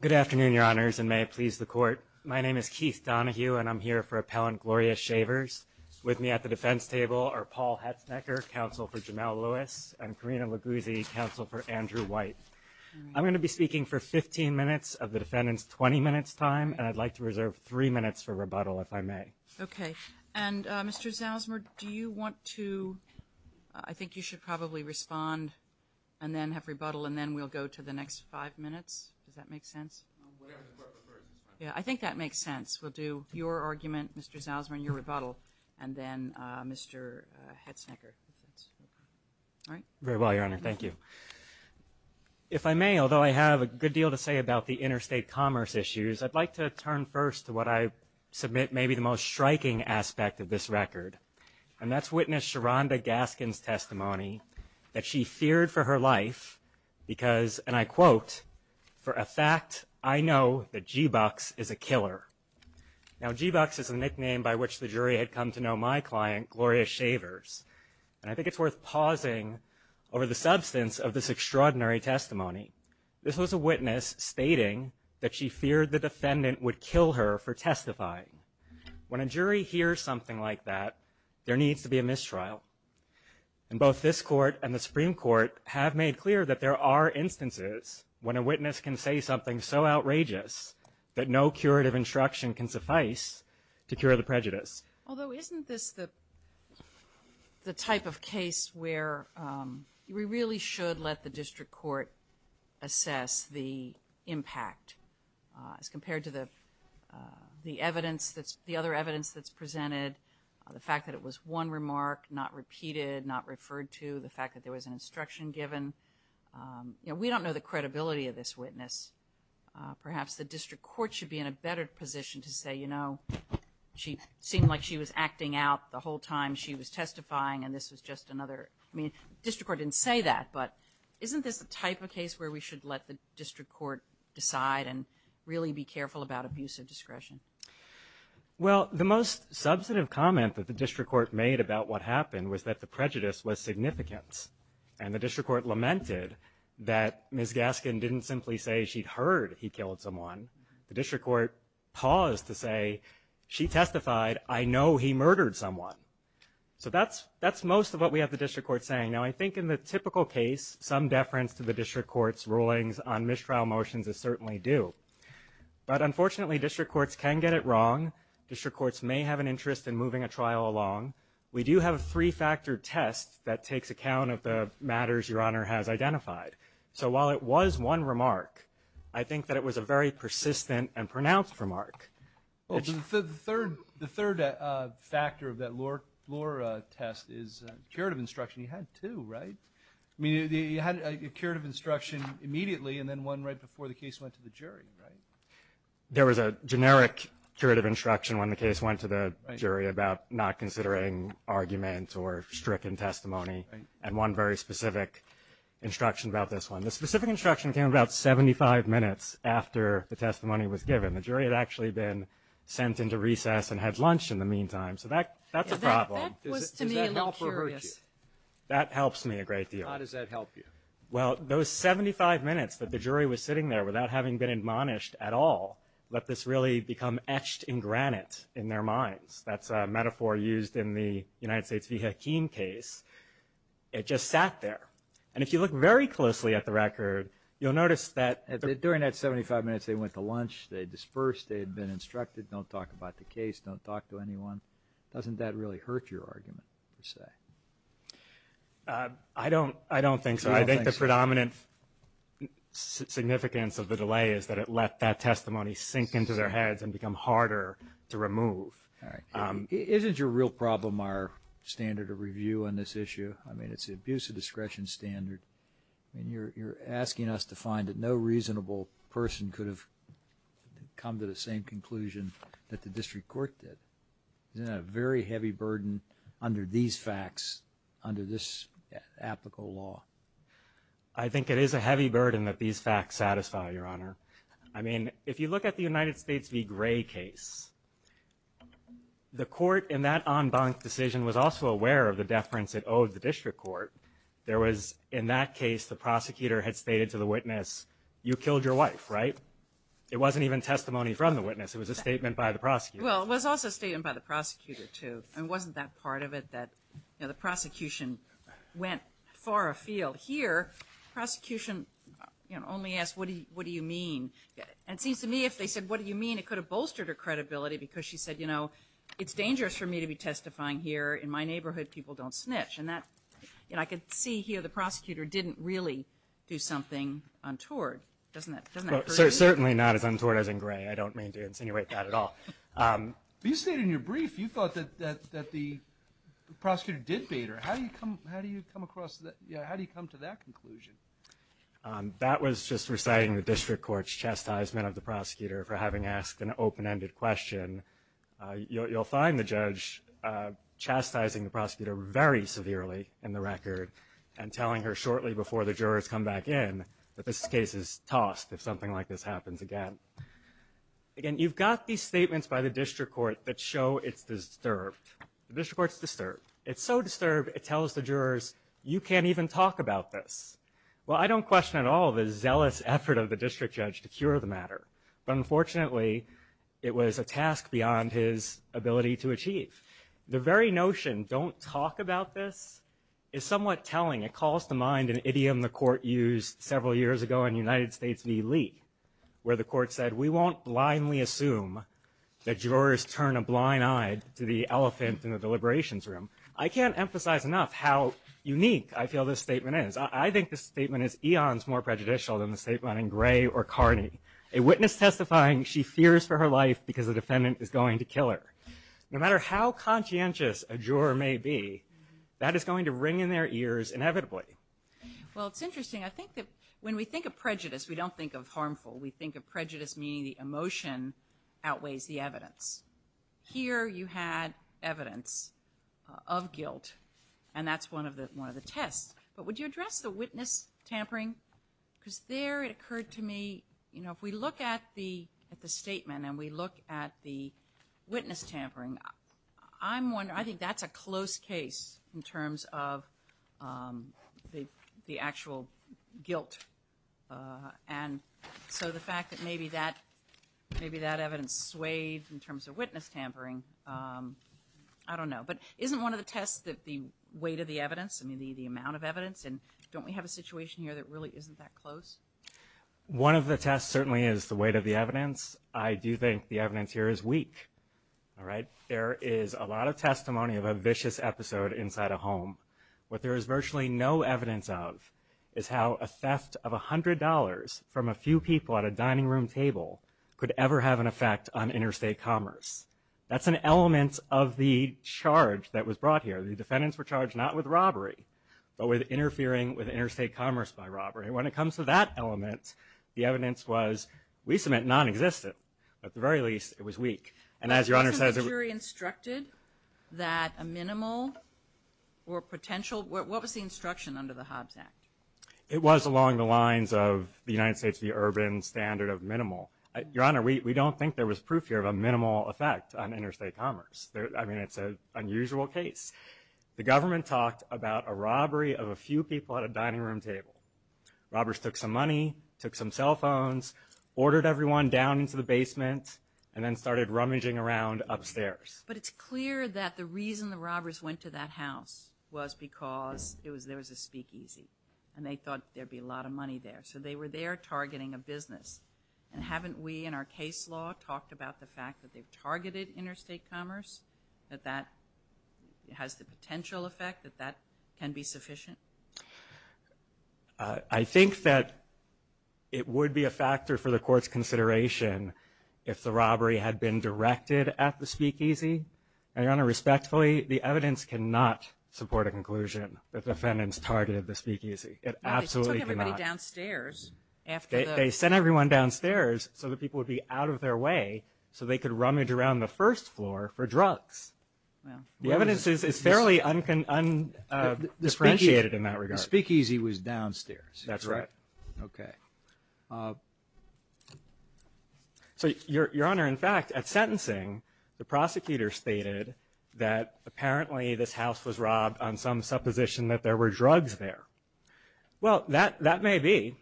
Good afternoon, Your Honors, and may it please the Court. My name is Keith Donohue, and I'm here for Appellant Gloria Shavers. With me at the defense table are Paul Hetznecker, counsel for Jamel Lewis, and Karina Luguzzi, counsel for Andrew White. I'm going to be speaking for 15 minutes of the defendant's 20 minutes time, and I'd like to reserve three minutes for rebuttal, if I may. Okay. And Mr. Zalzmer, do you want to, I think you should probably respond and then have rebuttal, and then we'll go to the next five minutes. Does that make sense? No, whatever the Court prefers is fine. Yeah, I think that makes sense. We'll do your argument, Mr. Zalzmer, and your rebuttal, and then Mr. Hetznecker. All right? Very well, Your Honor, thank you. If I may, although I have a good deal to say about the interstate commerce issues, I'd like to turn first to what I submit may be the most striking aspect of this record, and that's witness Sharonda Gaskin's testimony that she feared for her life because, and I quote, for a fact I know that G-Bucks is a killer. Now, G-Bucks is a nickname by which the jury had come to know my client, Gloria Shavers, and I think it's worth pausing over the substance of this extraordinary testimony. This was a witness stating that she feared the defendant would kill her for testifying. When a jury hears something like that, there needs to be a mistrial, and both this Court and the Supreme Court have made clear that there are instances when a witness can say something so outrageous that no curative instruction can suffice to cure the prejudice. Although, isn't this the type of case where we really should let the district court assess the impact as compared to the evidence, the other evidence that's presented, the fact that it was one remark, not repeated, not referred to, the fact that there was an instruction given. You know, we don't know the credibility of this witness. Perhaps the district court should be in a better position to say, you know, she seemed like she was acting out the whole time she was testifying, and this was just another – I mean, district court didn't say that, but isn't this the type of case where we should let the district court decide and really be careful about abuse of discretion? Well, the most substantive comment that the district court made about what happened was that the prejudice was significant, and the district court lamented that Ms. Gaskin didn't simply say she'd heard he killed someone. The district court paused to say, she testified, I know he murdered someone. So that's most of what we have the district court saying. Now, I think in the typical case, some deference to the district court's rulings on mistrial motions is certainly due. But unfortunately, district courts can get it wrong. District courts may have an interest in moving a trial along. We do have a three-factor test that takes account of the matters Your Honor has identified. So while it was one remark, I think that it was a very persistent and pronounced remark. The third factor of that Lohr test is curative instruction. You had two, right? I mean, you had a curative instruction immediately, and then one right before the case went to the jury, right? There was a generic curative instruction when the case went to the jury about not considering argument or stricken testimony, and one very specific instruction about this one. The specific instruction came about 75 minutes after the testimony was given. The jury had actually been sent into recess and had lunch in the meantime. So that's a problem. That was, to me, a little curious. Does that help or hurt you? That helps me a great deal. How does that help you? Well, those 75 minutes that the jury was sitting there without having been admonished at all let this really become etched in granite in their minds. That's a metaphor used in the United States v. Hakeem case. It just sat there. And if you look very closely at the record, you'll notice that during that 75 minutes they went to lunch, they dispersed, they had been instructed, don't talk about the case, don't talk to anyone. Doesn't that really hurt your argument per se? I don't think so. I think the predominant significance of the delay is that it let that testimony sink into their heads and become harder to remove. Isn't your real problem our standard of review on this issue? I mean, it's the abuse of discretion standard. You're asking us to find that no reasonable person could have come to the same conclusion that the district court did. Isn't that a very heavy burden under these facts, under this applicable law? I think it is a heavy burden that these facts satisfy, Your Honor. I mean, if you look at the United States v. Gray case, the court in that en banc decision was also aware of the deference it owed the district court. There was, in that case, the prosecutor had stated to the witness, you killed your wife, right? It wasn't even testimony from the witness. It was a statement by the prosecutor. Well, it was also a statement by the prosecutor, too. And wasn't that part of it that the prosecution went far afield? But here, the prosecution only asked, what do you mean? And it seems to me, if they said, what do you mean, it could have bolstered her credibility because she said, you know, it's dangerous for me to be testifying here. In my neighborhood, people don't snitch. And that, you know, I could see here the prosecutor didn't really do something untoward. Doesn't that hurt you? Certainly not as untoward as in Gray. I don't mean to insinuate that at all. You stated in your brief, you thought that the prosecutor did bait her. How do you come across that? How do you come to that conclusion? That was just reciting the district court's chastisement of the prosecutor for having asked an open-ended question. You'll find the judge chastising the prosecutor very severely in the record and telling her shortly before the jurors come back in that this case is tossed if something like this happens again. Again, you've got these statements by the district court that show it's disturbed. The district court's disturbed. It's so disturbed, it tells the jurors, you can't even talk about this. Well, I don't question at all the zealous effort of the district judge to cure the matter. But unfortunately, it was a task beyond his ability to achieve. The very notion, don't talk about this, is somewhat telling. It calls to mind an idiom the court used several years ago in United States v. Lee, where the court said, we won't blindly assume that jurors turn a blind eye to the elephant in the deliberations room. I can't emphasize enough how unique I feel this statement is. I think this statement is eons more prejudicial than the statement in Gray or Carney. A witness testifying, she fears for her life because the defendant is going to kill her. No matter how conscientious a juror may be, that is going to ring in their ears inevitably. Well, it's interesting. I think that when we think of prejudice, we don't think of harmful. We think of prejudice meaning the emotion outweighs the evidence. Here, you had evidence of guilt, and that's one of the tests. But would you address the witness tampering? Because there, it occurred to me, if we look at the statement and we look at the witness tampering, I think that's a close case in terms of the actual guilt. And so the fact that maybe that evidence swayed in terms of witness tampering, I don't know. But isn't one of the tests that the weight of the evidence, I mean, the amount of evidence, and don't we have a situation here that really isn't that close? One of the tests certainly is the weight of the evidence. I do think the evidence here is weak, all right? There is a lot of testimony of a vicious episode inside a home. What there is virtually no evidence of is how a theft of $100 from a few people at a dining room table could ever have an effect on interstate commerce. That's an element of the charge that was brought here. The defendants were charged not with robbery, but with interfering with interstate commerce by robbery. And when it comes to that element, the evidence was, at least it meant non-existent. At the very least, it was weak. And as Your Honor says- Wasn't the jury instructed that a minimal or potential, what was the instruction under the Hobbs Act? It was along the lines of the United States v. Urban standard of minimal. Your Honor, we don't think there was proof here of a minimal effect on interstate commerce. I mean, it's an unusual case. The government talked about a robbery of a few people at a dining room table. Robbers took some money, took some cell phones, ordered everyone down into the basement, and then started rummaging around upstairs. But it's clear that the reason the robbers went to that house was because there was a speakeasy and they thought there'd be a lot of money there. So they were there targeting a business. And haven't we, in our case law, talked about the fact that they've targeted interstate commerce, that that has the potential effect, that that can be sufficient? I think that it would be a factor for the court's consideration if the robbery had been directed at the speakeasy. And Your Honor, respectfully, the evidence cannot support a conclusion that the defendants targeted the speakeasy. It absolutely cannot. They took everybody downstairs after the- They sent everyone downstairs so that people would be out of their way so they could rummage around the first floor for drugs. The evidence is fairly un-differentiated in that regard. The speakeasy was downstairs. That's right. Okay. So, Your Honor, in fact, at sentencing, the prosecutor stated that apparently this house was robbed on some supposition that there were drugs there. Well, that may be.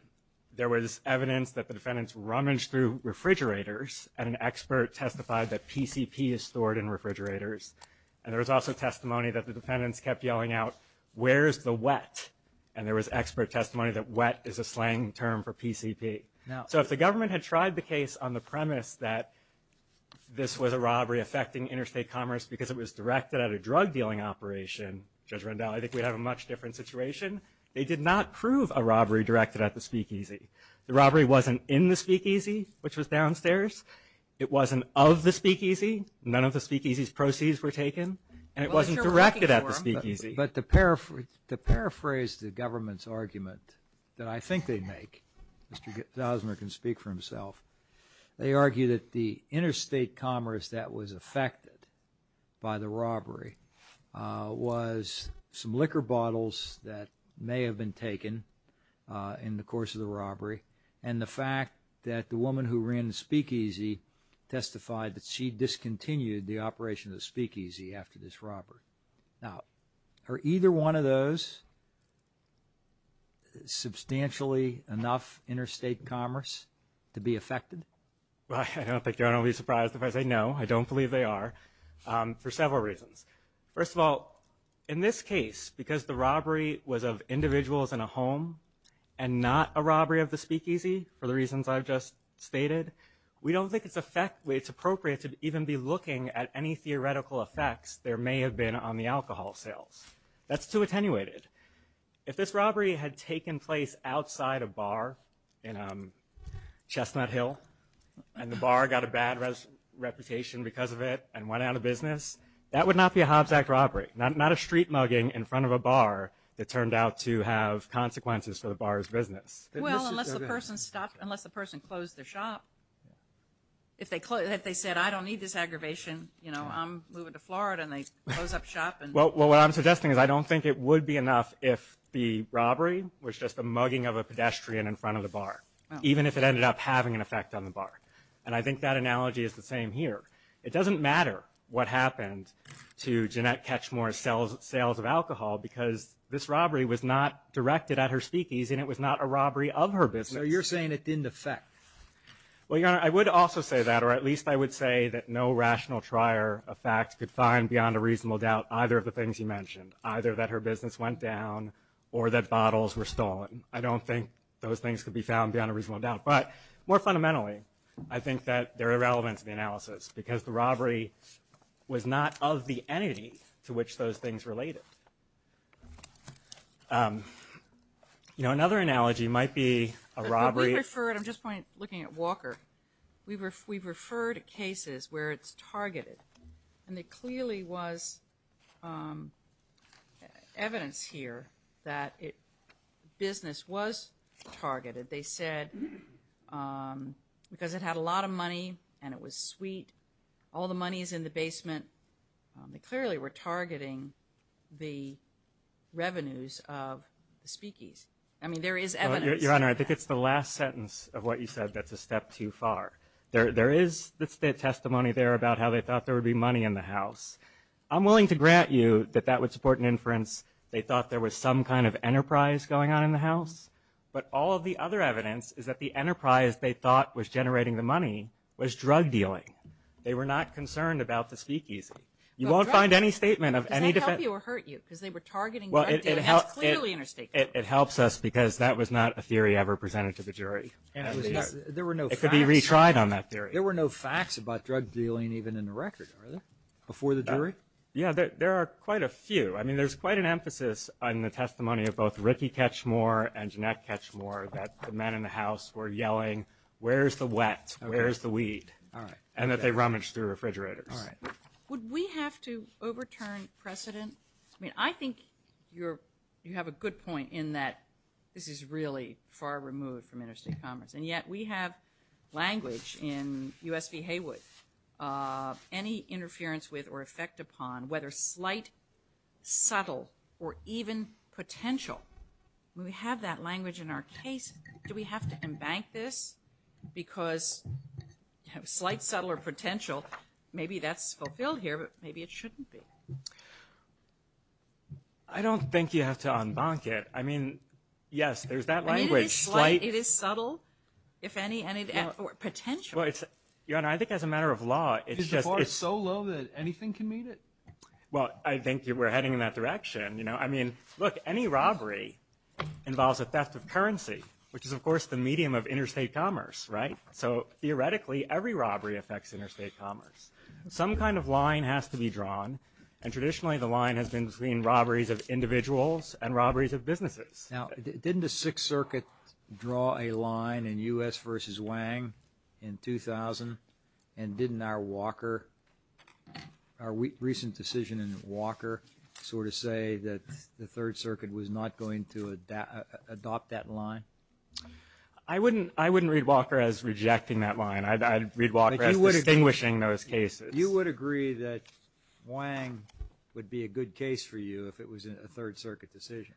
There was evidence that the defendants rummaged through refrigerators and an expert testified that PCP is stored in refrigerators. And there was also testimony that the defendants kept yelling out, where's the wet? And there was expert testimony that wet is a slang term for PCP. So if the government had tried the case on the premise that this was a robbery affecting interstate commerce because it was directed at a drug-dealing operation, Judge Rendell, I think we'd have a much different situation. They did not prove a robbery directed at the speakeasy. The robbery wasn't in the speakeasy, which was downstairs. It wasn't of the speakeasy. None of the speakeasy's proceeds were taken and it wasn't directed at the speakeasy. But to paraphrase the government's argument that I think they make, Mr. Osmer can speak for himself. They argue that the interstate commerce that was affected by the robbery was some liquor bottles that may have been taken in the course of the robbery and the fact that the woman who ran the speakeasy testified that she discontinued the operation of the speakeasy after this robbery. Now, are either one of those substantially enough interstate commerce to be affected? Well, I don't think you're going to be surprised if I say no. I don't believe they are for several reasons. First of all, in this case, because the robbery was of individuals in a home and not a robbery of the speakeasy for the reasons I've just stated, we don't think it's appropriate to even be looking at any theoretical effects there may have been on the alcohol sales. That's too attenuated. If this robbery had taken place outside a bar in Chestnut Hill and the bar got a bad reputation because of it and went out of business, that would not be a Hobbs Act robbery, not a street mugging in front of a bar that turned out to have consequences for the bar's business. Well, unless the person stopped, unless the person closed their shop. If they said, I don't need this aggravation, you know, I'm moving to Florida and they close up shop. Well, what I'm suggesting is I don't think it would be enough if the robbery was just a mugging of a pedestrian in front of the bar, even if it ended up having an effect on the bar. And I think that analogy is the same here. It doesn't matter what happened to Jeanette Ketchmore's sales of alcohol because this was a robbery of her business. So you're saying it didn't affect. Well, Your Honor, I would also say that, or at least I would say that no rational trier of facts could find beyond a reasonable doubt either of the things you mentioned, either that her business went down or that bottles were stolen. I don't think those things could be found beyond a reasonable doubt. But more fundamentally, I think that they're irrelevant to the analysis because the robbery was not of the entity to which those things related. Um, you know, another analogy might be a robbery. I'm just looking at Walker. We've referred cases where it's targeted and there clearly was evidence here that business was targeted. They said because it had a lot of money and it was sweet, all the money is in the basement. They clearly were targeting the revenues of the speakees. I mean, there is evidence. Your Honor, I think it's the last sentence of what you said that's a step too far. There is testimony there about how they thought there would be money in the house. I'm willing to grant you that that would support an inference. They thought there was some kind of enterprise going on in the house. But all of the other evidence is that the enterprise they thought was generating the money was drug dealing. They were not concerned about the speakeasy. You won't find any statement of any defense. Does that help you or hurt you? Because they were targeting drug dealing as clearly interstate. It helps us because that was not a theory ever presented to the jury. There were no facts. It could be retried on that theory. There were no facts about drug dealing even in the record, are there, before the jury? Yeah, there are quite a few. I mean, there's quite an emphasis on the testimony of both Ricky Ketchmore and Jeanette Ketchmore that the men in the house were yelling, where's the wet? Where's the weed? And that they rummaged through refrigerators. Would we have to overturn precedent? I think you have a good point in that this is really far removed from interstate commerce. And yet we have language in U.S. v. Haywood. Any interference with or effect upon, whether slight, subtle, or even potential, we have that language in our case. Do we have to embank this? Because slight, subtle, or potential, maybe that's fulfilled here, but maybe it shouldn't be. I don't think you have to embank it. I mean, yes, there's that language. I mean, it is slight. It is subtle. If any, any of that. Or potential. Your Honor, I think as a matter of law, it's just— Is the bar so low that anything can meet it? Well, I think we're heading in that direction, you know. I mean, look, any robbery involves a theft of currency, which is, of course, the medium of interstate commerce, right? So theoretically, every robbery affects interstate commerce. Some kind of line has to be drawn. And traditionally, the line has been between robberies of individuals and robberies of businesses. Now, didn't the Sixth Circuit draw a line in U.S. v. Wang in 2000? And didn't our Walker, our recent decision in Walker, sort of say that the Third Circuit was not going to adopt that line? I wouldn't read Walker as rejecting that line. I'd read Walker as distinguishing those cases. You would agree that Wang would be a good case for you if it was a Third Circuit decision?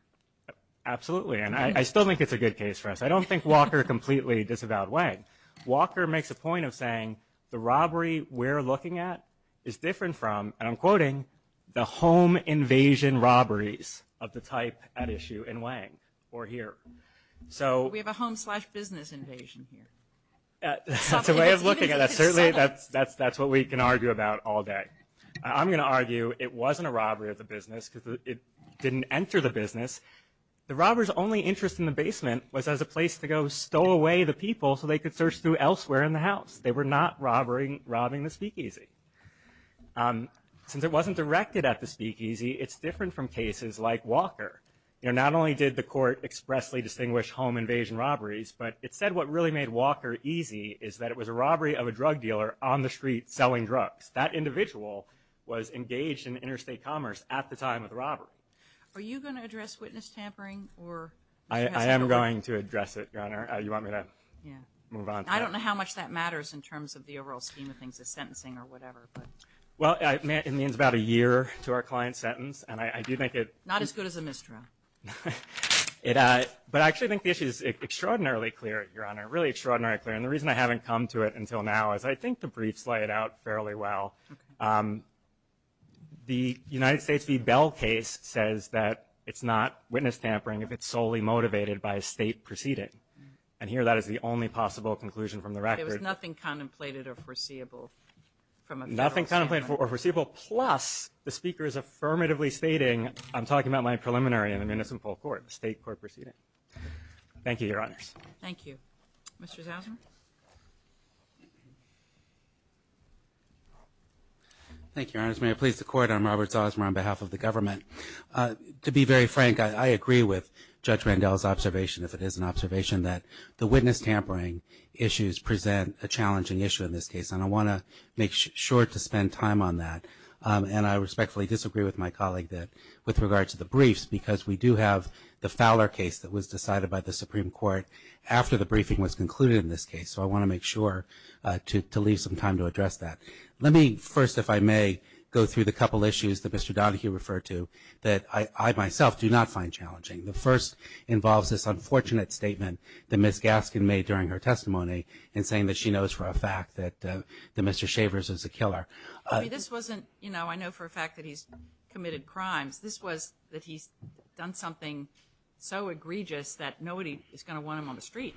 Absolutely. And I still think it's a good case for us. I don't think Walker completely disavowed Wang. Walker makes a point of saying the robbery we're looking at is different from, and I'm quoting, the home invasion robberies of the type at issue in Wang, or here. So we have a home slash business invasion here. That's a way of looking at it. Certainly, that's what we can argue about all day. I'm going to argue it wasn't a robbery of the business because it didn't enter the business. The robber's only interest in the basement was as a place to go stow away the people so they could search through elsewhere in the house. They were not robbing the speakeasy. Since it wasn't directed at the speakeasy, it's different from cases like Walker. Not only did the court expressly distinguish home invasion robberies, but it said what really made Walker easy is that it was a robbery of a drug dealer on the street selling drugs. That individual was engaged in interstate commerce at the time of the robbery. Are you going to address witness tampering? I am going to address it, Your Honor. You want me to move on? I don't know how much that matters in terms of the overall scheme of things, the sentencing or whatever. Well, it means about a year to our client's sentence. And I do think it... Not as good as a misdreav. But I actually think the issue is extraordinarily clear, Your Honor, really extraordinarily clear. And the reason I haven't come to it until now is I think the briefs lay it out fairly well. The United States v. Bell case says that it's not witness tampering if it's solely motivated by a state proceeding. And here, that is the only possible conclusion from the record. There was nothing contemplated or foreseeable from a federal standpoint. Nothing contemplated or foreseeable, plus the speaker is affirmatively stating, I'm talking about my preliminary in a municipal court, a state court proceeding. Thank you, Your Honors. Thank you. Mr. Zausman? Thank you, Your Honors. May I please the court? I'm Robert Zausman on behalf of the government. To be very frank, I agree with Judge Randall's observation, if it is an observation, that the witness tampering issues present a challenging issue in this case. And I want to make sure to spend time on that. And I respectfully disagree with my colleague with regard to the briefs, because we do have the Fowler case that was decided by the Supreme Court after the briefing was concluded in this case. So I want to make sure to leave some time to address that. Let me first, if I may, go through the couple issues that Mr. Donahue referred to that I, myself, do not find challenging. The first involves this unfortunate statement that Ms. Gaskin made during her testimony, in saying that she knows for a fact that Mr. Shavers is a killer. I mean, this wasn't, I know for a fact that he's committed crimes. This was that he's done something so egregious that nobody is going to want him on the street.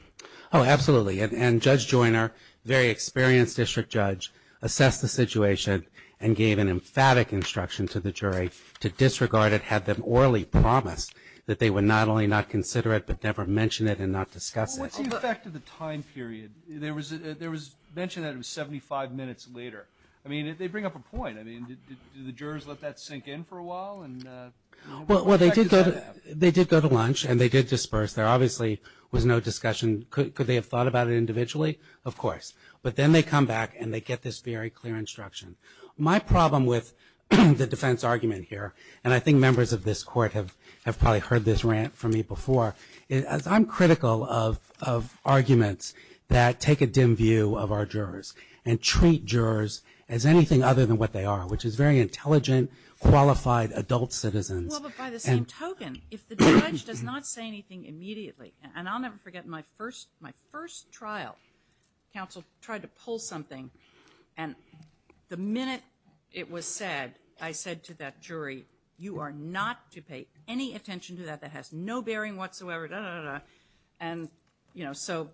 Oh, absolutely. And Judge Joyner, very experienced district judge, assessed the situation and gave an emphatic instruction to the jury to disregard it, had them orally promised that they would not only not consider it, but never mention it and not discuss it. What's the effect of the time period? There was mention that it was 75 minutes later. I mean, they bring up a point. I mean, do the jurors let that sink in for a while? And what effect does that have? They did go to lunch, and they did disperse. There obviously was no discussion. Could they have thought about it individually? Of course. But then they come back, and they get this very clear instruction. My problem with the defense argument here, and I think members of this court have probably heard this rant from me before, is I'm critical of arguments that take a dim view of our jurors and treat jurors as anything other than what they are, which is very intelligent, qualified adult citizens. Well, but by the same token, if the judge does not say anything immediately, and I'll never forget my first trial, counsel tried to pull something, and the minute it was said, I said to that jury, you are not to pay any attention to that. That has no bearing whatsoever, da, da, da, da. And so,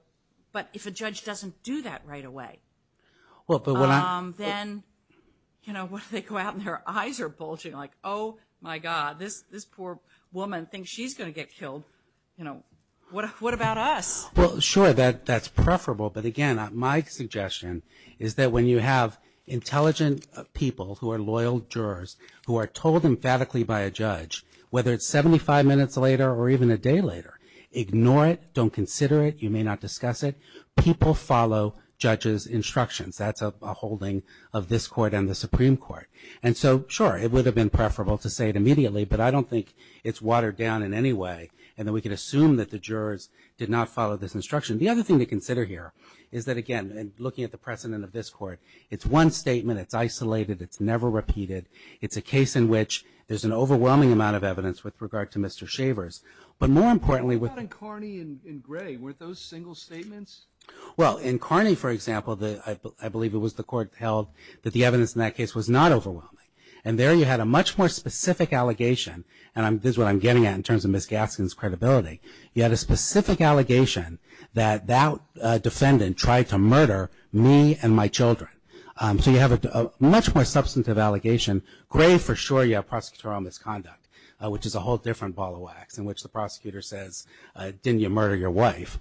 but if a judge doesn't do that right away, then what do they go out, and their eyes are bulging like, oh, my God, this poor woman thinks she's going to get killed. You know, what about us? Well, sure, that's preferable, but again, my suggestion is that when you have intelligent people who are loyal jurors, who are told emphatically by a judge, whether it's 75 minutes later or even a day later, ignore it, don't consider it, you may not discuss it, people follow judge's instructions. That's a holding of this court and the Supreme Court. And so, sure, it would have been preferable to say it immediately, but I don't think it's watered down in any way, and that we can assume that the jurors did not follow this instruction. The other thing to consider here is that, again, looking at the precedent of this court, it's one statement, it's isolated, it's never repeated, it's a case in which there's an overwhelming amount of evidence with regard to Mr. Shavers. But more importantly... What about in Carney and Gray? Weren't those single statements? Well, in Carney, for example, I believe it was the court held that the evidence in that case was not overwhelming. And there you had a much more specific allegation, and this is what I'm getting at in terms of Ms. Gaskin's credibility, you had a specific allegation that that defendant tried to murder me and my children. So you have a much more substantive allegation. Gray, for sure, you have prosecutorial misconduct, which is a whole different ball of wax, in which the prosecutor says, didn't you murder your wife?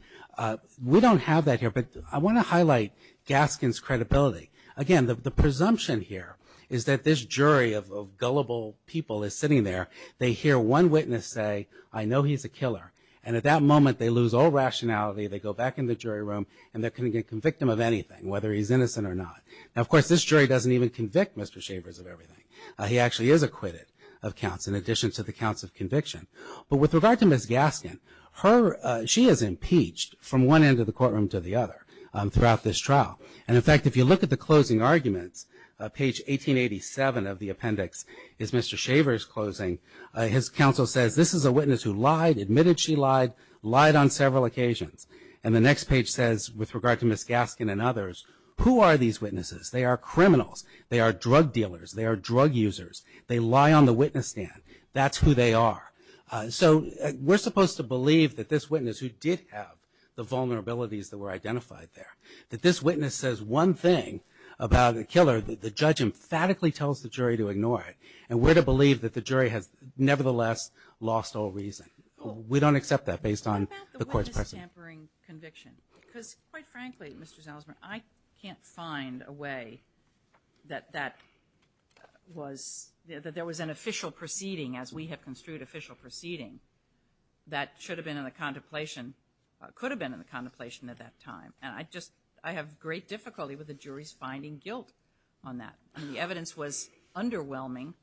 We don't have that here, but I want to highlight Gaskin's credibility. Again, the presumption here is that this jury of gullible people is sitting there, they hear one witness say, I know he's a killer. And at that moment, they lose all rationality, they go back in the jury room, and they're going to convict him of anything, whether he's innocent or not. Now, of course, this jury doesn't even convict Mr. Shavers of everything. He actually is acquitted of counts in addition to the counts of conviction. But with regard to Ms. Gaskin, she is impeached from one end of the courtroom to the other throughout this trial. And in fact, if you look at the closing arguments, page 1887 of the appendix, is Mr. Shavers' closing. His counsel says, this is a witness who lied, admitted she lied, lied on several occasions. And the next page says, with regard to Ms. Gaskin and others, who are these witnesses? They are criminals. They are drug dealers. They are drug users. They lie on the witness stand. That's who they are. So we're supposed to believe that this witness who did have the vulnerabilities that were identified there, that this witness says one thing about the killer, that the judge emphatically tells the jury to ignore it. And we're to believe that the jury has nevertheless lost all reason. We don't accept that based on the court's pressure. MS. GOTTLIEB What about the witness tampering conviction? Because quite frankly, Mr. Salzman, I can't find a way that that was – that there was an official proceeding, as we have construed official proceeding, that should have been in the contemplation – could have been in the contemplation at that time. And I just – I have great difficulty with the jury's finding guilt on that. I mean, the evidence was underwhelming,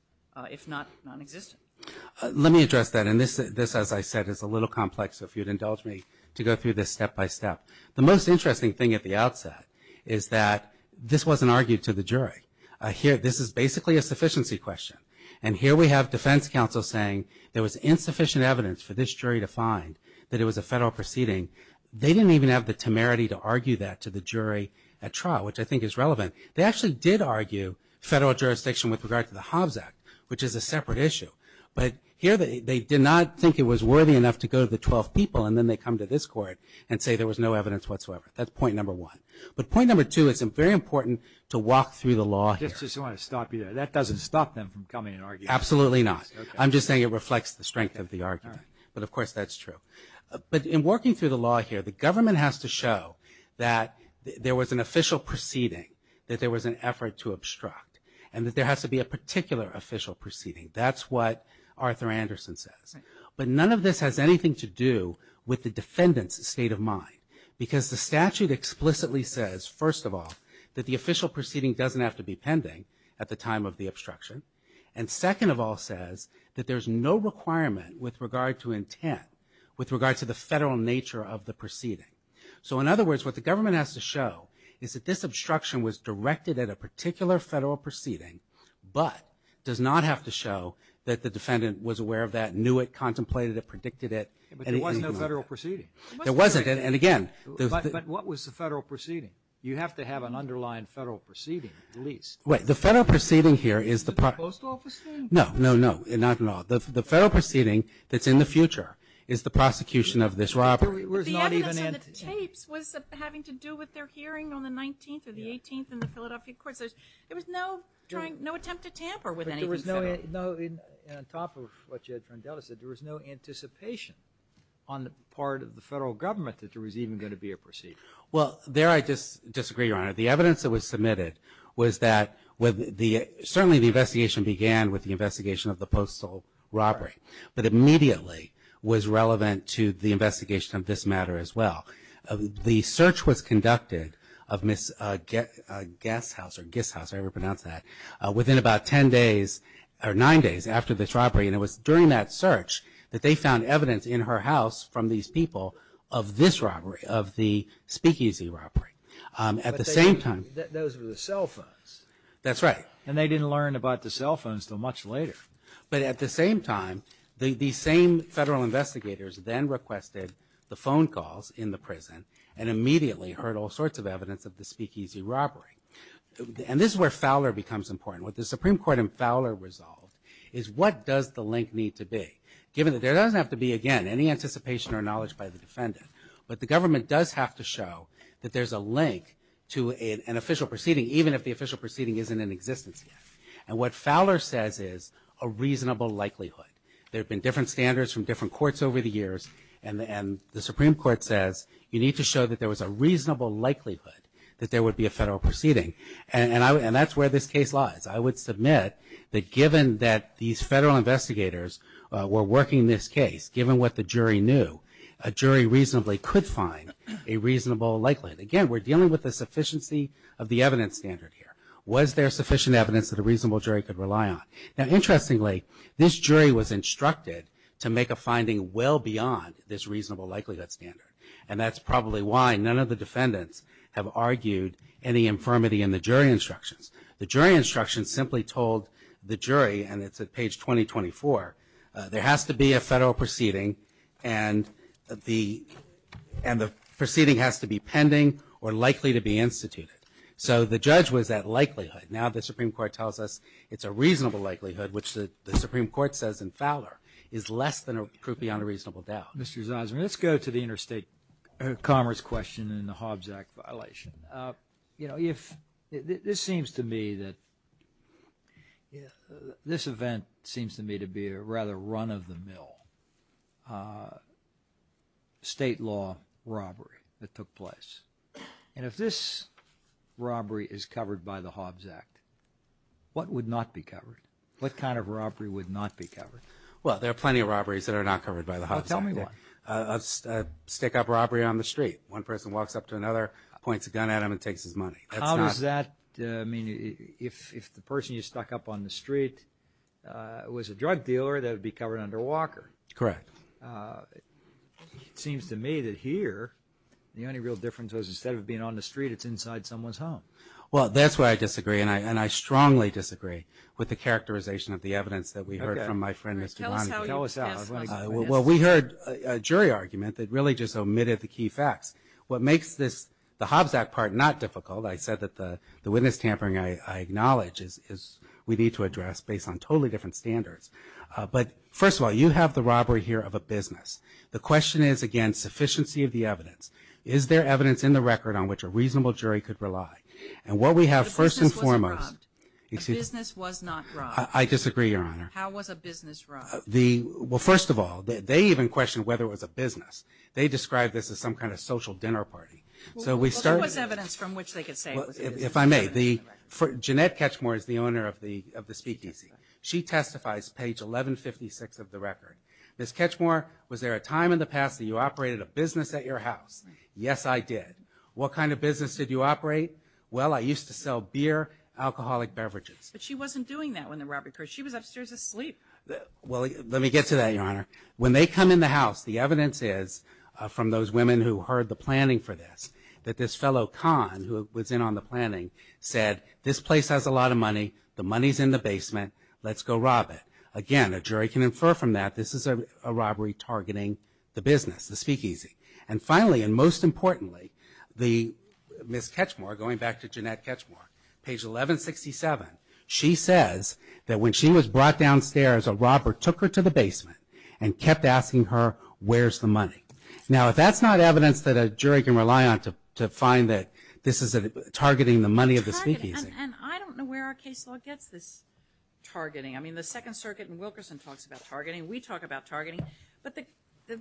if not non-existent. MR. SALZMAN Let me address that. And this, as I said, is a little complex. So if you'd indulge me to go through this step by step. The most interesting thing at the outset is that this wasn't argued to the jury. Here – this is basically a sufficiency question. And here we have defense counsel saying there was insufficient evidence for this jury to find that it was a federal proceeding. They didn't even have the temerity to argue that to the jury at trial, which I think is relevant. They actually did argue federal jurisdiction with regard to the Hobbs Act, which is a separate issue. But here they did not think it was worthy enough to go to the 12 people, and then they come to this court and say there was no evidence whatsoever. That's point number one. But point number two, it's very important to walk through the law here. MR. GOTTLIEB I just want to stop you there. That doesn't stop them from coming and arguing. MR. SALZMAN Absolutely not. I'm just saying it reflects the strength of the argument. But of course, that's true. But in working through the law here, the government has to show that there was an official proceeding, that there was an effort to obstruct, and that there has to be a particular official proceeding. That's what Arthur Anderson says. But none of this has anything to do with the defendant's state of mind, because the statute explicitly says, first of all, that the official proceeding doesn't have to be pending at the time of the obstruction. And second of all says that there's no requirement with regard to intent with regard to the federal nature of the proceeding. So in other words, what the government has to show is that this obstruction was directed at a particular federal proceeding, but does not have to show that the defendant was aware of that, knew it, contemplated it, predicted it. MR. GOTTLIEB But there was no federal proceeding. MR. SALZMAN There wasn't. And again, there's the MR. GOTTLIEB But what was the federal proceeding? You have to have an underlying federal proceeding at least. MR. SALZMAN Right. The federal proceeding here is the MR. GOTTLIEB Is it the post office thing? MR. SALZMAN No, no, no, not at all. The federal proceeding that's in the future is the prosecution of this robbery. MR. GOTTLIEB But the evidence on the tapes was having to do with their hearing on the 19th or the 18th in the Philadelphia courts. There was no trying, no attempt to tamper with anything federal. MR. GOTTLIEB But there was no, and on top of what Judge Rondella said, there was no anticipation on the part of the federal government that there was even going to be a proceeding. MR. SALZMAN Well, there I just disagree, Your Honor. The evidence that was submitted was that with the, certainly the investigation began with the investigation of the postal robbery, but immediately was relevant to the investigation of this matter as well. The search was conducted of Ms. Gasthauser, Gisthauser, I overpronounce that, within about 10 days or 9 days after this robbery. And it was during that search that they found evidence in her house from these people of this robbery, of the speakeasy robbery. At the same time MR. GOTTLIEB But those were the cell phones. MR. SALZMAN That's right. MR. GOTTLIEB And they didn't learn about the cell phones until much later. MR. SALZMAN But at the same time, the same federal investigators then requested the phone calls in the prison and immediately heard all sorts of evidence of the speakeasy robbery. And this is where Fowler becomes important. What the Supreme Court in Fowler resolved is what does the link need to be, given that there doesn't have to be, again, any anticipation or knowledge by the defendant, but the government does have to show that there's a link to an official proceeding, even if the official proceeding isn't in existence yet. And what Fowler says is a reasonable likelihood. There have been different standards from different courts over the years, and the Supreme Court says you need to show that there was a reasonable likelihood that there would be a federal proceeding. And that's where this case lies. I would submit that given that these federal investigators were working this case, given what the jury knew, a jury reasonably could find a reasonable likelihood. Again, we're dealing with the sufficiency of the evidence standard here. Was there sufficient evidence that a reasonable jury could rely on? Now, interestingly, this jury was instructed to make a finding well beyond this reasonable likelihood standard. And that's probably why none of the defendants have argued any infirmity in the jury instructions. The jury instructions simply told the jury, and it's at page 2024, there has to be a federal proceeding and the proceeding has to be pending or likely to be instituted. So the judge was at likelihood. Now the Supreme Court tells us it's a reasonable likelihood, which the Supreme Court says in Fowler, is less than or beyond a reasonable doubt. Mr. Zizer, let's go to the interstate commerce question and the Hobbs Act violation. You know, if this seems to me that this event seems to me to be a rather run-of-the-mill state law robbery that took place. And if this robbery is covered by the Hobbs Act, what would not be covered? What kind of robbery would not be covered? Well, there are plenty of robberies that are not covered by the Hobbs Act. Tell me one. A stick-up robbery on the street. One person walks up to another, points a gun at him, and takes his money. How does that, I mean, if the person you stuck up on the street was a drug dealer, that would be covered under Walker? Correct. Seems to me that here, the only real difference was instead of being on the street, it's inside someone's home. Well, that's why I disagree. And I strongly disagree with the characterization of the evidence that we heard from my friend, Mr. Lonnie. Tell us how. Well, we heard a jury argument that really just omitted the key facts. What makes this, the Hobbs Act part, not difficult, I said that the witness tampering I acknowledge is we need to address based on totally different standards. But first of all, you have the robbery here of a business. The question is, again, sufficiency of the evidence. Is there evidence in the record on which a reasonable jury could rely? And what we have first and foremost. A business was not robbed. I disagree, Your Honor. How was a business robbed? Well, first of all, they even questioned whether it was a business. They described this as some kind of social dinner party. So we started. Well, there was evidence from which they could say it was a business. If I may, Jeanette Ketchmore is the owner of the Speak DC. She testifies, page 1156 of the record. Ms. Ketchmore, was there a time in the past that you operated a business at your house? Yes, I did. What kind of business did you operate? Well, I used to sell beer, alcoholic beverages. But she wasn't doing that when the robbery occurred. She was upstairs asleep. Well, let me get to that, Your Honor. When they come in the house, the evidence is from those women who heard the planning for this, that this fellow con who was in on the planning said, this place has a lot of money. The money's in the basement. Let's go rob it. Again, a jury can infer from that this is a robbery targeting the business, the Speak DC. And finally, and most importantly, the Ms. Ketchmore, going back to Jeanette Ketchmore, page 1167. She says that when she was brought downstairs, a robber took her to the basement and kept asking her, where's the money? Now, if that's not evidence that a jury can rely on to find that this is targeting the money of the Speak DC. And I don't know where our case law gets this targeting. I mean, the Second Circuit and Wilkerson talks about targeting. We talk about targeting. But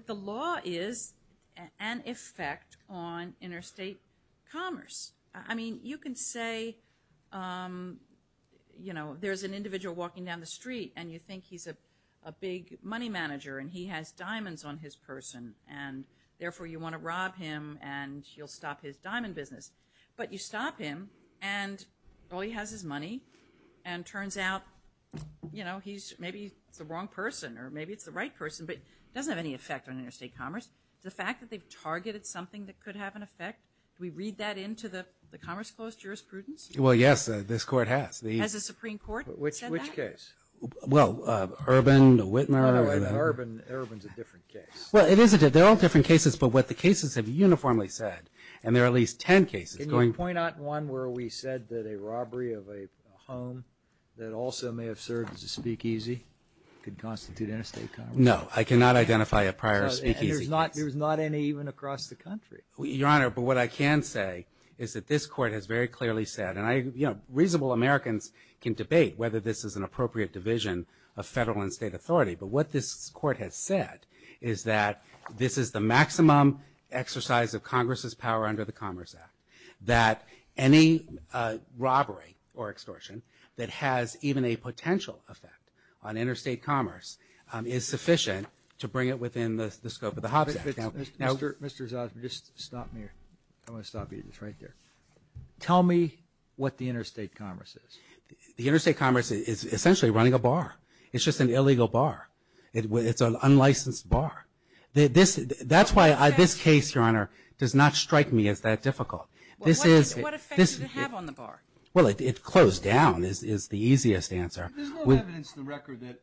the law is an effect on interstate commerce. I mean, you can say there's an individual walking down the street and you think he's a big money manager and he has diamonds on his person. And therefore, you want to rob him and he'll stop his diamond business. But you stop him and all he has is money. And turns out, maybe it's the wrong person or maybe it's the right person, but it doesn't have any effect on interstate commerce. The fact that they've targeted something that could have an effect, we read that into the Commerce Closed Jurisprudence? Well, yes, this court has. Has the Supreme Court said that? Which case? Well, Urban, Whitmer. No, no, no, Urban's a different case. Well, it is a different, they're all different cases, but what the cases have uniformly said, and there are at least ten cases. Can you point out one where we said that a robbery of a home that also may have served as a speakeasy could constitute interstate commerce? No, I cannot identify a prior speakeasy case. There's not any even across the country. Your Honor, but what I can say is that this court has very clearly said, and I, you know, reasonable Americans can debate whether this is an appropriate division of federal and state authority, but what this court has said is that this is the maximum exercise of Congress's power under the Commerce Act. That any robbery or extortion that has even a potential effect on interstate commerce is sufficient to bring it within the scope of the Hobbs Act. Mr. Zosma, just stop me here. I want to stop you just right there. Tell me what the interstate commerce is. The interstate commerce is essentially running a bar. It's just an illegal bar. It's an unlicensed bar. That's why this case, Your Honor, does not strike me as that difficult. What effect does it have on the bar? Well, it closed down is the easiest answer. There's no evidence in the record that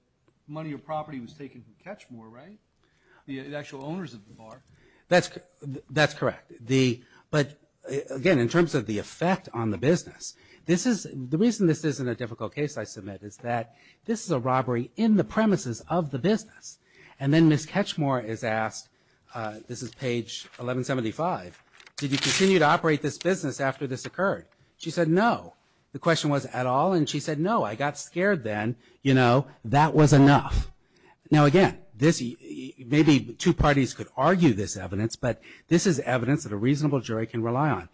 money or property was taken from Catchmore, right? The actual owners of the bar. That's, that's correct. The, but again, in terms of the effect on the business. This is, the reason this isn't a difficult case I submit is that this is a robbery in the premises of the business. And then Ms. Catchmore is asked, this is page 1175. Did you continue to operate this business after this occurred? She said no. The question was at all, and she said no, I got scared then. You know, that was enough. Now again, this, maybe two parties could argue this evidence, but this is evidence that a reasonable jury can rely on.